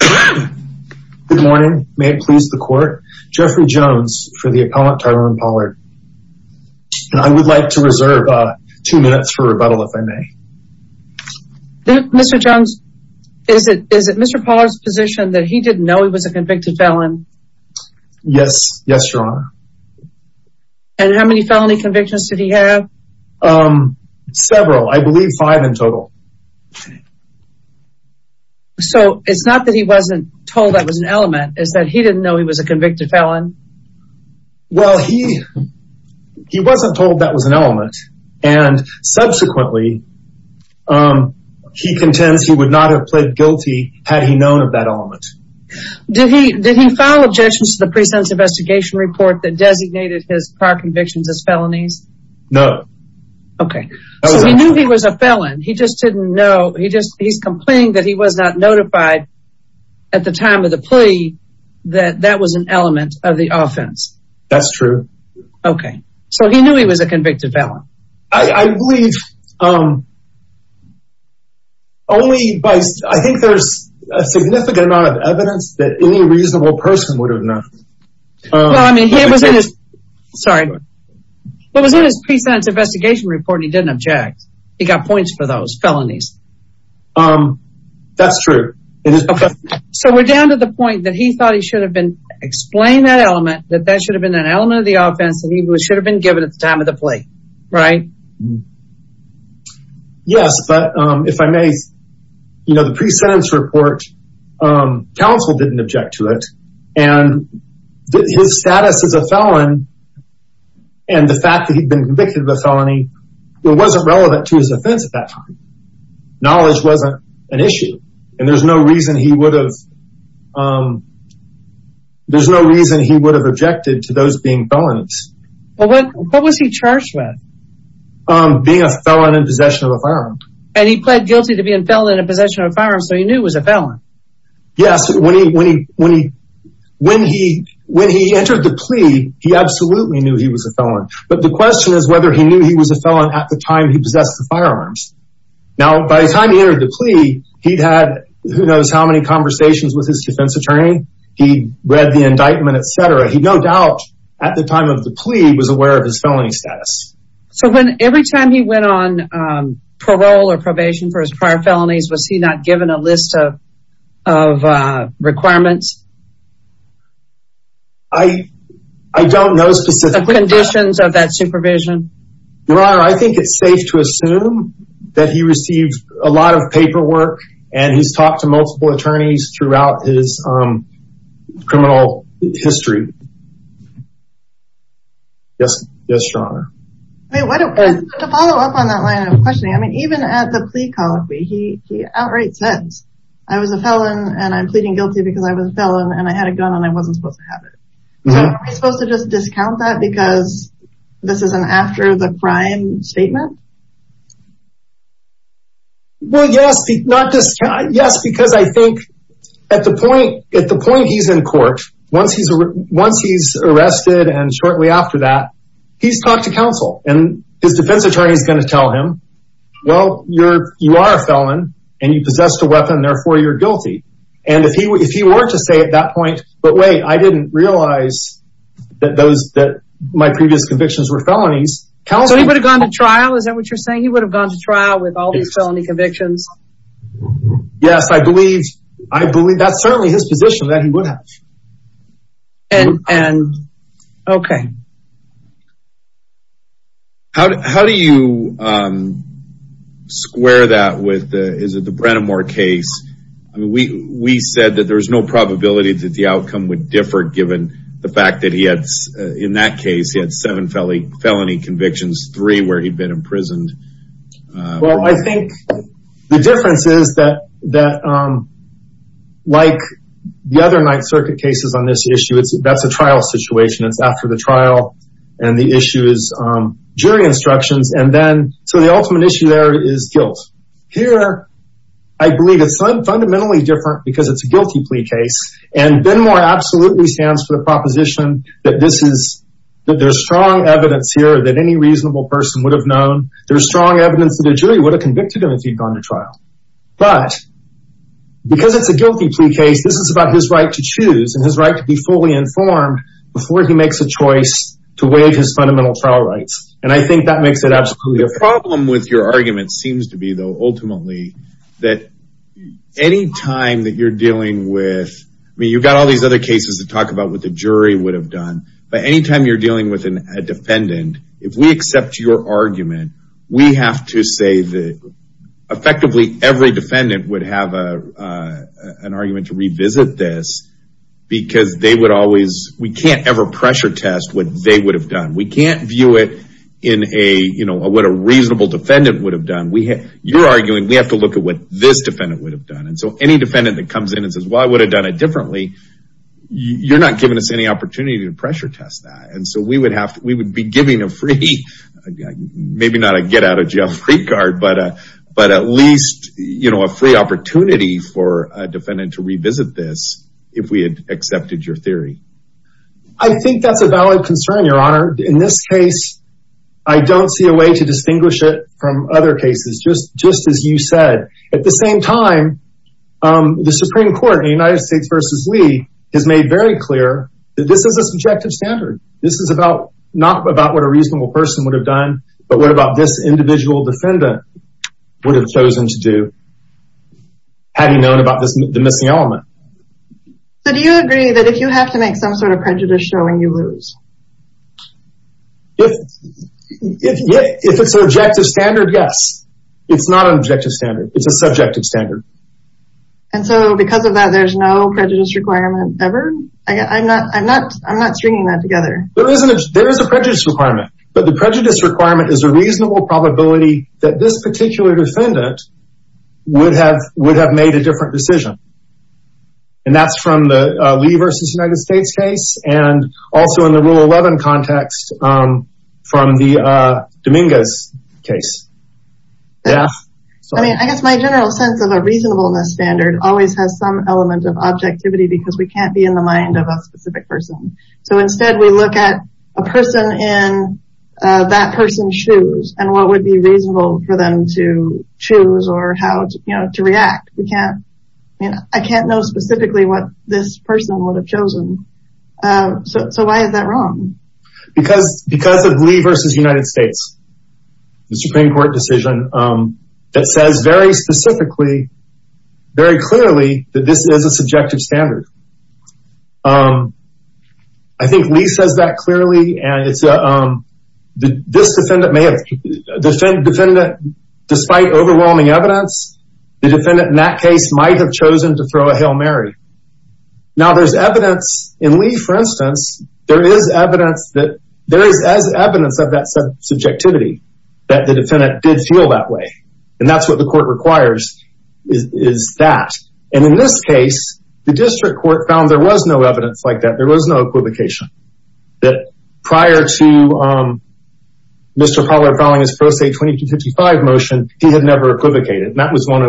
Good morning. May it please the court. Jeffrey Jones for the appellant Tyronne Pollard. I would like to reserve two minutes for rebuttal, if I may. Mr. Jones, is it Mr. Pollard's position that he didn't know he was a convicted felon? Yes. Yes, Your Honor. And how many felony convictions did he have? Several. I believe five in total. So, it's not that he wasn't told that was an element. It's that he didn't know he was a convicted felon? Well, he wasn't told that was an element. And subsequently, he contends he would not have pled guilty had he known of that element. Did he file objections to the pre-sentence investigation report that designated his prior convictions as felonies? No. Okay. So, he knew he was a felon. He just didn't know. He's complaining that he was not notified at the time of the plea that that was an element of the offense. That's true. Okay. So, he knew he was a convicted felon? I believe only by – I think there's a significant amount of evidence that any reasonable person would have known. Well, I mean, he was in his – sorry. He was in his pre-sentence investigation report and he didn't object. He got points for those felonies. That's true. So, we're down to the point that he thought he should have explained that element, that that should have been an element of the offense and he should have been given at the time of the plea, right? Yes, but if I may, you know, the pre-sentence report, counsel didn't object to it and his status as a felon and the fact that he'd been convicted of a felony, it wasn't relevant to his offense at that time. Knowledge wasn't an issue and there's no reason he would have – there's no reason he would have objected to those being felons. What was he charged with? Being a felon in possession of a firearm. And he pled guilty to being a felon in possession of a firearm, so he knew he was a felon. Yes, when he entered the plea, he absolutely knew he was a felon. But the question is whether he knew he was a felon at the time he possessed the firearms. Now, by the time he entered the plea, he'd had who knows how many conversations with his defense attorney. He'd read the indictment, etc. He no doubt, at the time of the plea, was aware of his felony status. So every time he went on parole or probation for his prior felonies, was he not given a list of requirements? I don't know specifically. The conditions of that supervision? Your Honor, I think it's safe to assume that he received a lot of paperwork and he's talked to multiple attorneys throughout his criminal history. Yes, Your Honor. To follow up on that line of questioning, even at the plea call, he outright says, I was a felon and I'm pleading guilty because I was a felon and I had a gun and I wasn't supposed to have it. So are we supposed to just discount that because this is an after the crime statement? Well, yes. Yes, because I think at the point he's in court, once he's arrested and shortly after that, he's talked to counsel and his defense attorney is going to tell him, well, you are a felon and you possessed a weapon, therefore you're guilty. And if he were to say at that point, but wait, I didn't realize that my previous convictions were felonies. So he would have gone to trial? Is that what you're saying? He would have gone to trial with all these felony convictions? Yes, I believe that's certainly his position that he would have. And, okay. How do you square that with, is it the Brennamore case? I mean, we said that there's no probability that the outcome would differ given the fact that he had, in that case, he had seven felony convictions, three where he'd been imprisoned. Well, I think the difference is that like the other Ninth Circuit cases on this issue, that's a trial situation, it's after the trial and the issue is jury instructions. So the ultimate issue there is guilt. Here, I believe it's fundamentally different because it's a guilty plea case. And Benmore absolutely stands for the proposition that this is, that there's strong evidence here that any reasonable person would have known. There's strong evidence that a jury would have convicted him if he'd gone to trial. But because it's a guilty plea case, this is about his right to choose and his right to be fully informed before he makes a choice to waive his fundamental trial rights. And I think that makes it absolutely a problem. The problem with your argument seems to be, though, ultimately, that any time that you're dealing with, I mean, you've got all these other cases to talk about what the jury would have done, but any time you're dealing with a defendant, if we accept your argument, we have to say that effectively every defendant would have an argument to revisit this because they would always, we can't ever pressure test what they would have done. We can't view it in a, you know, what a reasonable defendant would have done. You're arguing we have to look at what this defendant would have done. And so any defendant that comes in and says, well, I would have done it differently, you're not giving us any opportunity to pressure test that. And so we would be giving a free, maybe not a get out of jail free card, but at least, you know, a free opportunity for a defendant to revisit this if we had accepted your theory. I think that's a valid concern, Your Honor. In this case, I don't see a way to distinguish it from other cases, just as you said. At the same time, the Supreme Court in the United States v. Lee has made very clear that this is a subjective standard. This is about, not about what a reasonable person would have done, but what about this individual defendant would have chosen to do had he known about the missing element. So do you agree that if you have to make some sort of prejudice showing, you lose? If it's an objective standard, yes. It's not an objective standard. It's a subjective standard. And so because of that, there's no prejudice requirement ever? I'm not stringing that together. There is a prejudice requirement. But the prejudice requirement is a reasonable probability that this particular defendant would have made a different decision. And that's from the Lee v. United States case and also in the Rule 11 context from the Dominguez case. I mean, I guess my general sense of a reasonableness standard always has some element of objectivity because we can't be in the mind of a specific person. So instead, we look at a person in that person's shoes and what would be reasonable for them to choose or how to react. I can't know specifically what this person would have chosen. So why is that wrong? Because of Lee v. United States, the Supreme Court decision that says very specifically, very clearly that this is a subjective standard. I think Lee says that clearly. And this defendant may have, despite overwhelming evidence, the defendant in that case might have chosen to throw a Hail Mary. Now there's evidence in Lee, for instance, there is evidence that there is as evidence of that subjectivity that the defendant did feel that way. And that's what the court requires is that. And in this case, the district court found there was no evidence like that. There was no equivocation. That prior to Mr. Pollard filing his Pro Se 2255 motion, he had never equivocated. And that was one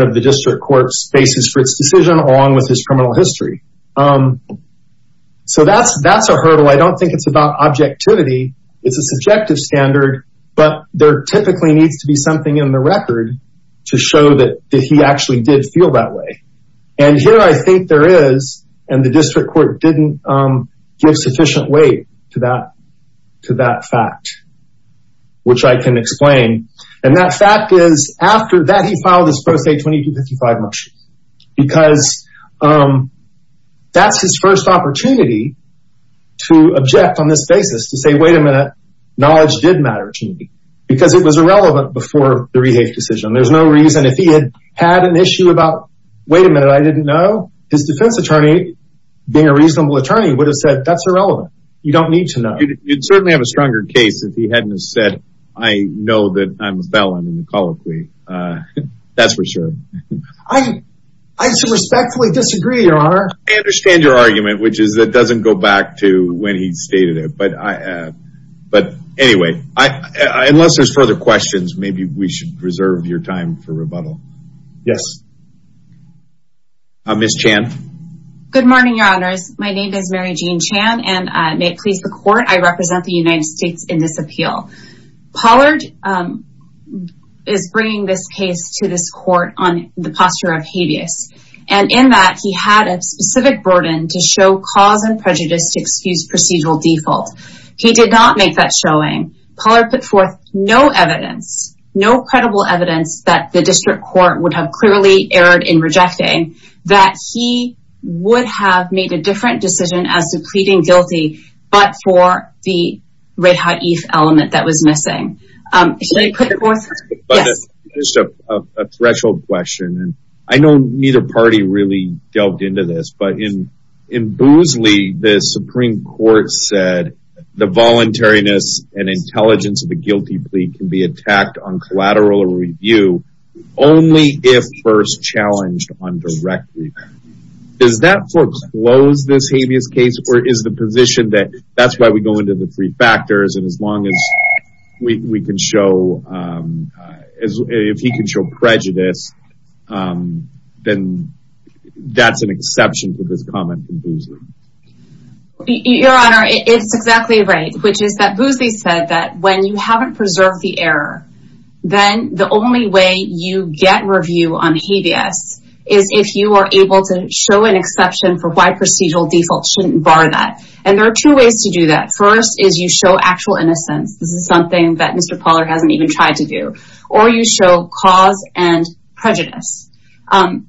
of the district court's basis for its decision along with his criminal history. So that's a hurdle. I don't think it's about objectivity. It's a subjective standard. But there typically needs to be something in the record to show that he actually did feel that way. And here I think there is. And the district court didn't give sufficient weight to that fact, which I can explain. And that fact is after that he filed his Pro Se 2255 motion. Because that's his first opportunity to object on this basis to say, wait a minute, knowledge did matter to me. Because it was irrelevant before the Rehave decision. There's no reason if he had had an issue about, wait a minute, I didn't know, his defense attorney, being a reasonable attorney, would have said that's irrelevant. You don't need to know. You'd certainly have a stronger case if he hadn't said, I know that I'm a felon in the colloquy. That's for sure. I respectfully disagree, Your Honor. I understand your argument, which is it doesn't go back to when he stated it. But anyway, unless there's further questions, maybe we should reserve your time for rebuttal. Yes. Ms. Chan. Good morning, Your Honors. My name is Mary Jean Chan. And may it please the court, I represent the United States in this appeal. Pollard is bringing this case to this court on the posture of habeas. And in that, he had a specific burden to show cause and prejudice to excuse procedural default. He did not make that showing. Pollard put forth no evidence, no credible evidence that the district court would have clearly erred in rejecting that he would have made a different decision as to pleading guilty, but for the red hot element that was missing. Should I put it forth? Yes. Just a threshold question. I know neither party really delved into this, but in Boosley, the Supreme Court said the voluntariness and intelligence of the guilty plea can be attacked on collateral review only if first challenged on direct review. Does that foreclose this habeas case, or is the position that that's why we go into the three factors, and as long as we can show, if he can show prejudice, then that's an exception to this comment from Boosley. Your Honor, it's exactly right, which is that Boosley said that when you haven't preserved the error, then the only way you get review on habeas is if you are able to show an exception for why procedural default shouldn't bar that. And there are two ways to do that. First is you show actual innocence. This is something that Mr. Pollard hasn't even tried to do. Or you show cause and prejudice. And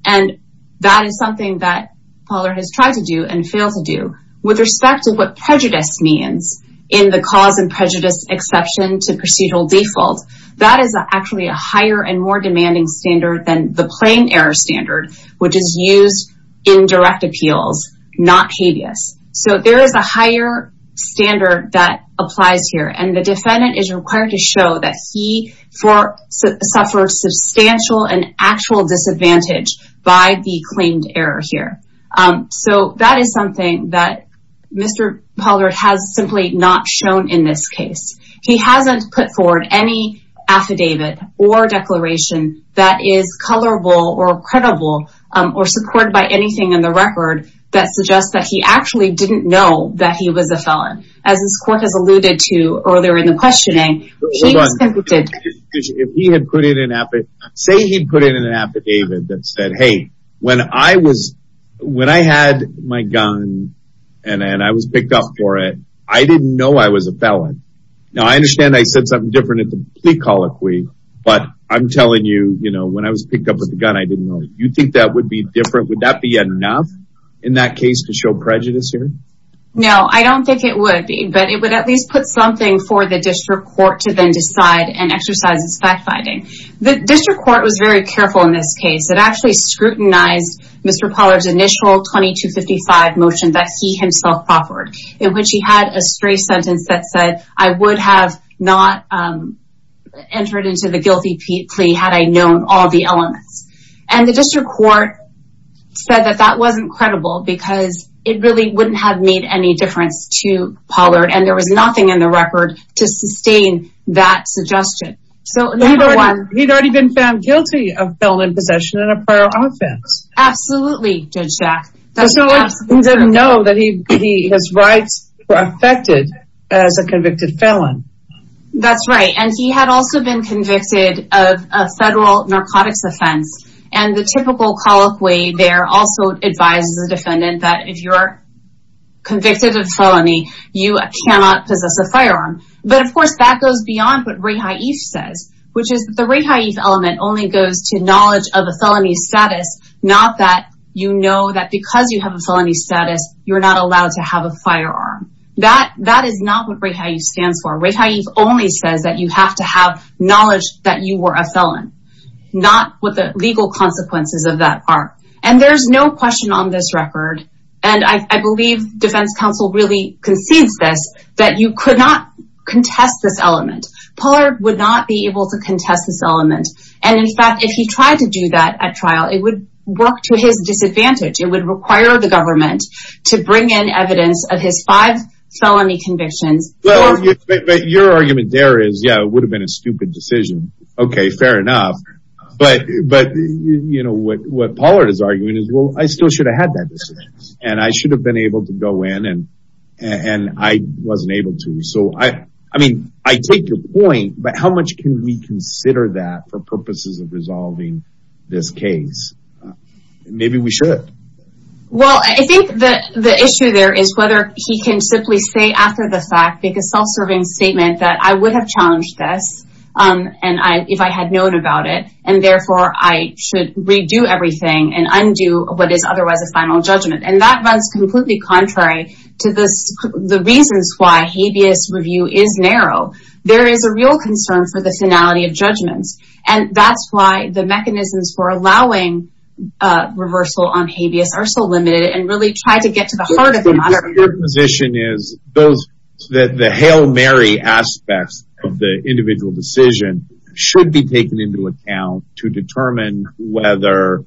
that is something that Pollard has tried to do and failed to do. With respect to what prejudice means in the cause and prejudice exception to procedural default, that is actually a higher and more demanding standard than the plain error standard, which is used in direct appeals, not habeas. So there is a higher standard that applies here, and the defendant is required to show that he suffers substantial and actual disadvantage by the claimed error here. So that is something that Mr. Pollard has simply not shown in this case. He hasn't put forward any affidavit or declaration that is colorable or credible or supported by anything in the record that suggests that he actually didn't know that he was a felon. As this court has alluded to earlier in the questioning. Hold on. Say he put in an affidavit that said, hey, when I had my gun and I was picked up for it, I didn't know I was a felon. Now I understand I said something different at the plea colloquy, but I'm telling you, you know, when I was picked up with the gun, I didn't know. You think that would be different? Would that be enough in that case to show prejudice here? No, I don't think it would be, but it would at least put something for the district court to then decide and exercise its fact-finding. The district court was very careful in this case. It actually scrutinized Mr. Pollard's initial 2255 motion that he himself offered, in which he had a stray sentence that said, I would have not entered into the guilty plea had I known all the elements. And the district court said that that wasn't credible because it really wouldn't have made any difference to Pollard, and there was nothing in the record to sustain that suggestion. He'd already been found guilty of felon in possession and a prior offense. Absolutely, Judge Jack. He didn't know that his rights were affected as a convicted felon. That's right. And he had also been convicted of a federal narcotics offense. And the typical colloquy there also advises the defendant that if you're convicted of felony, you cannot possess a firearm. But, of course, that goes beyond what Reha Eves says, which is that the Reha Eves element only goes to knowledge of a felony status, not that you know that because you have a felony status, you're not allowed to have a firearm. That is not what Reha Eves stands for. Reha Eves only says that you have to have knowledge that you were a felon, not what the legal consequences of that are. And there's no question on this record, and I believe defense counsel really concedes this, that you could not contest this element. Pollard would not be able to contest this element. And, in fact, if he tried to do that at trial, it would work to his disadvantage. It would require the government to bring in evidence of his five felony convictions. But your argument there is, yeah, it would have been a stupid decision. Okay, fair enough. But, you know, what Pollard is arguing is, well, I still should have had that decision. And I should have been able to go in, and I wasn't able to. So, I mean, I take your point, but how much can we consider that for purposes of resolving this case? Maybe we should. Well, I think the issue there is whether he can simply say after the fact, make a self-serving statement that I would have challenged this if I had known about it. And, therefore, I should redo everything and undo what is otherwise a final judgment. And that runs completely contrary to the reasons why habeas review is narrow. There is a real concern for the finality of judgments. And that's why the mechanisms for allowing reversal on habeas are so limited and really try to get to the heart of the matter. Your position is that the Hail Mary aspects of the individual decision should be taken into account to determine whether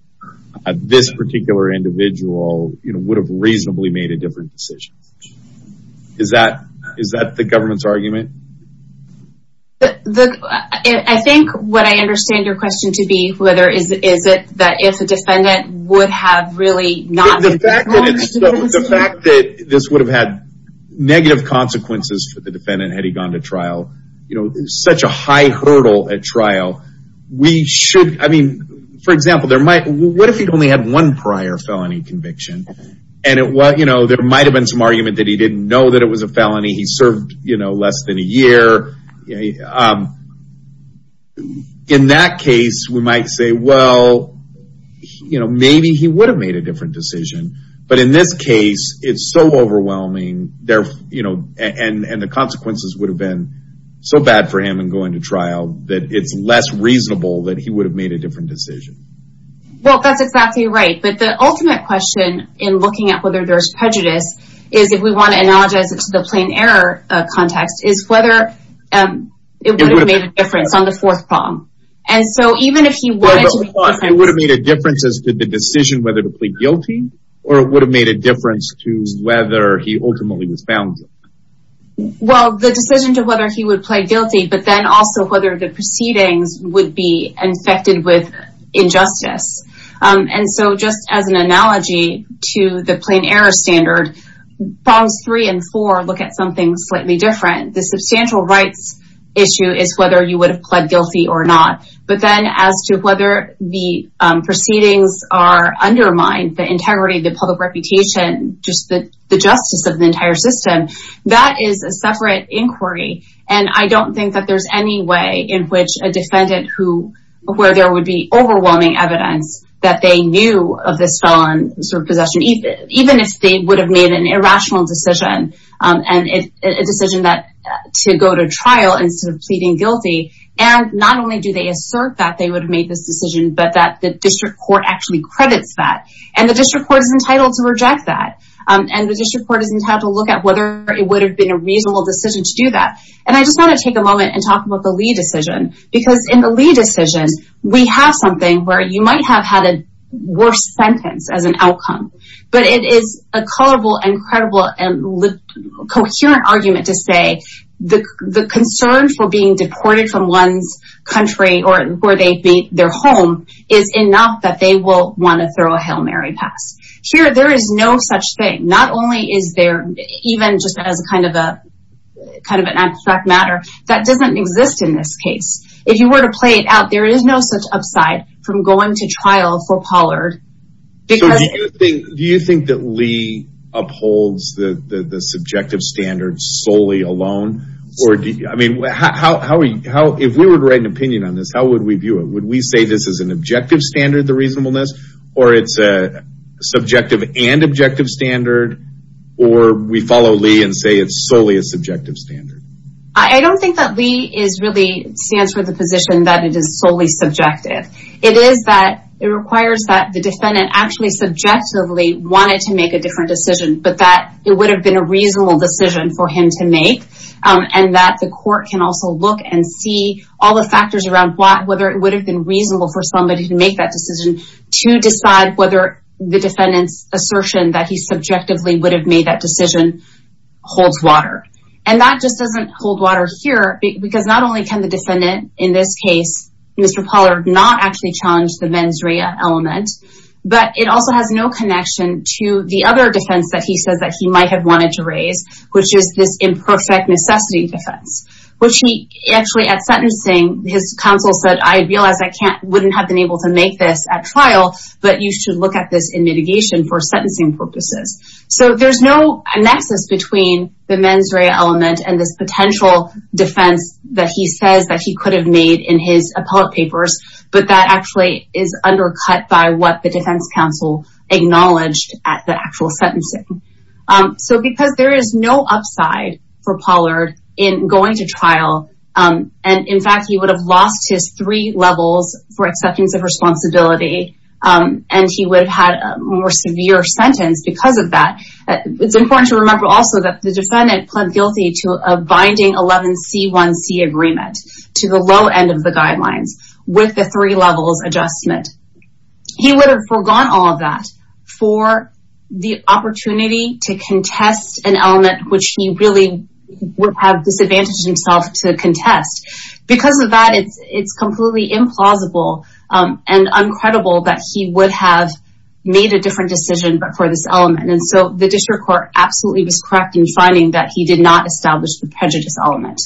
this particular individual would have reasonably made a different decision. I think what I understand your question to be whether is it that if a defendant would have really not... The fact that this would have had negative consequences for the defendant had he gone to trial, you know, such a high hurdle at trial. We should, I mean, for example, what if he only had one prior felony conviction? And, you know, there might have been some argument that he didn't know that it was a felony. He served, you know, less than a year. In that case, we might say, well, you know, maybe he would have made a different decision. But in this case, it's so overwhelming, you know, and the consequences would have been so bad for him in going to trial that it's less reasonable that he would have made a different decision. Well, that's exactly right. But the ultimate question in looking at whether there's prejudice is, if we want to analogize it to the plain error context, is whether it would have made a difference on the fourth prong. And so even if he wanted to... It would have made a difference as to the decision whether to plead guilty or it would have made a difference to whether he ultimately was found guilty. Well, the decision to whether he would plead guilty, but then also whether the proceedings would be infected with injustice. And so just as an analogy to the plain error standard, prongs three and four look at something slightly different. The substantial rights issue is whether you would have pled guilty or not. But then as to whether the proceedings are undermined, the integrity, the public reputation, just the justice of the entire system, that is a separate inquiry. And I don't think that there's any way in which a defendant who, where there would be overwhelming evidence that they knew of this felon possession, even if they would have made an irrational decision. A decision to go to trial instead of pleading guilty. And not only do they assert that they would have made this decision, but that the district court actually credits that. And the district court is entitled to reject that. And the district court is entitled to look at whether it would have been a reasonable decision to do that. And I just want to take a moment and talk about the Lee decision. Because in the Lee decision, we have something where you might have had a worse sentence as an outcome. But it is a colorable, incredible, and coherent argument to say the concern for being deported from one's country or where they made their home is enough that they will want to throw a Hail Mary pass. Here, there is no such thing. Not only is there, even just as kind of an abstract matter, that doesn't exist in this case. If you were to play it out, there is no such upside from going to trial for Pollard. So do you think that Lee upholds the subjective standards solely alone? I mean, if we were to write an opinion on this, how would we view it? Would we say this is an objective standard, the reasonableness? Or it's a subjective and objective standard? Or we follow Lee and say it's solely a subjective standard? I don't think that Lee really stands for the position that it is solely subjective. It is that it requires that the defendant actually subjectively wanted to make a different decision, but that it would have been a reasonable decision for him to make. And that the court can also look and see all the factors around whether it would have been reasonable for somebody to make that decision to decide whether the defendant's assertion that he subjectively would have made that decision holds water. And that just doesn't hold water here, because not only can the defendant in this case, Mr. Pollard, not actually challenge the mens rea element, but it also has no connection to the other defense that he says that he might have wanted to raise, which is this imperfect necessity defense. Which he actually at sentencing, his counsel said, I realize I wouldn't have been able to make this at trial, but you should look at this in mitigation for sentencing purposes. So there's no nexus between the mens rea element and this potential defense that he says that he could have made in his appellate papers, but that actually is undercut by what the defense counsel acknowledged at the actual sentencing. So because there is no upside for Pollard in going to trial, and in fact, he would have lost his three levels for acceptance of responsibility, and he would have had a more severe sentence because of that. It's important to remember also that the defendant pled guilty to a binding 11C1C agreement to the low end of the guidelines with the three levels adjustment. He would have forgone all of that for the opportunity to contest an element which he really would have disadvantaged himself to contest. Because of that, it's completely implausible and uncredible that he would have made a different decision for this element. And so the district court absolutely was correct in finding that he did not establish the prejudice element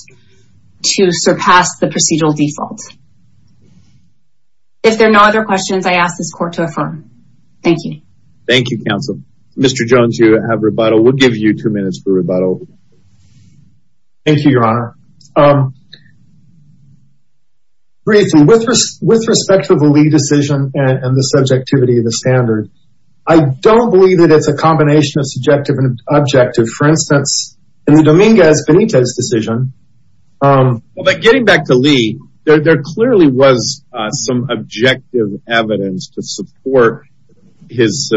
to surpass the procedural default. If there are no other questions, I ask this court to affirm. Thank you. Thank you, counsel. Mr. Jones, you have rebuttal. We'll give you two minutes for rebuttal. Thank you, Your Honor. Briefly, with respect to the Lee decision and the subjectivity of the standard, I don't believe that it's a combination of subjective and objective. For instance, in the Dominguez-Benitez decision... Getting back to Lee, there clearly was some objective evidence to support his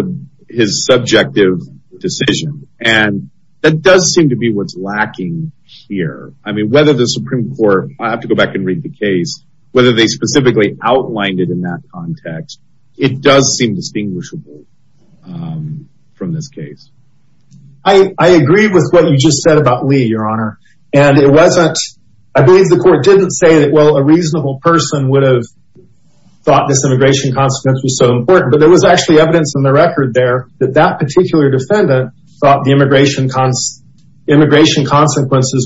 subjective decision. And that does seem to be what's lacking here. I mean, whether the Supreme Court, I have to go back and read the case, whether they specifically outlined it in that context, it does seem distinguishable from this case. I agree with what you just said about Lee, Your Honor. And it wasn't... I believe the court didn't say that, well, a reasonable person would have thought this immigration consequence was so important. But there was actually evidence in the record there that that particular defendant thought the immigration consequences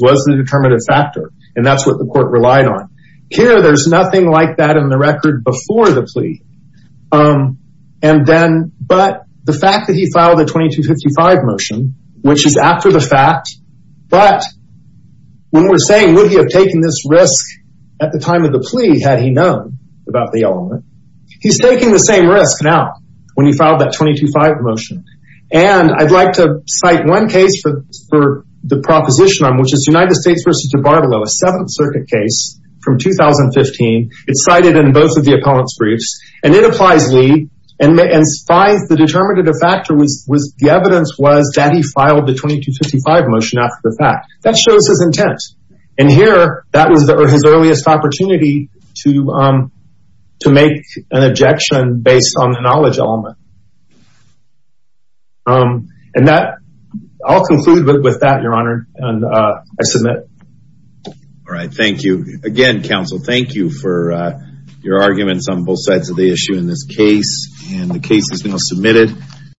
was the determinative factor. And that's what the court relied on. Here, there's nothing like that in the record before the plea. And then, but the fact that he filed a 2255 motion, which is after the fact, but when we're saying, would he have taken this risk at the time of the plea had he known about the element? He's taking the same risk now when he filed that 225 motion. And I'd like to cite one case for the proposition on, which is United States v. DiBartolo, a Seventh Circuit case from 2015. It's cited in both of the appellant's briefs. And it applies Lee and finds the determinative factor was the evidence was that he filed the 2255 motion after the fact. That shows his intent. And here, that was his earliest opportunity to make an objection based on the knowledge element. And that... I'll conclude with that, Your Honor, and I submit. All right. Thank you. Again, counsel, thank you for your arguments on both sides of the issue in this case. And the case is now submitted.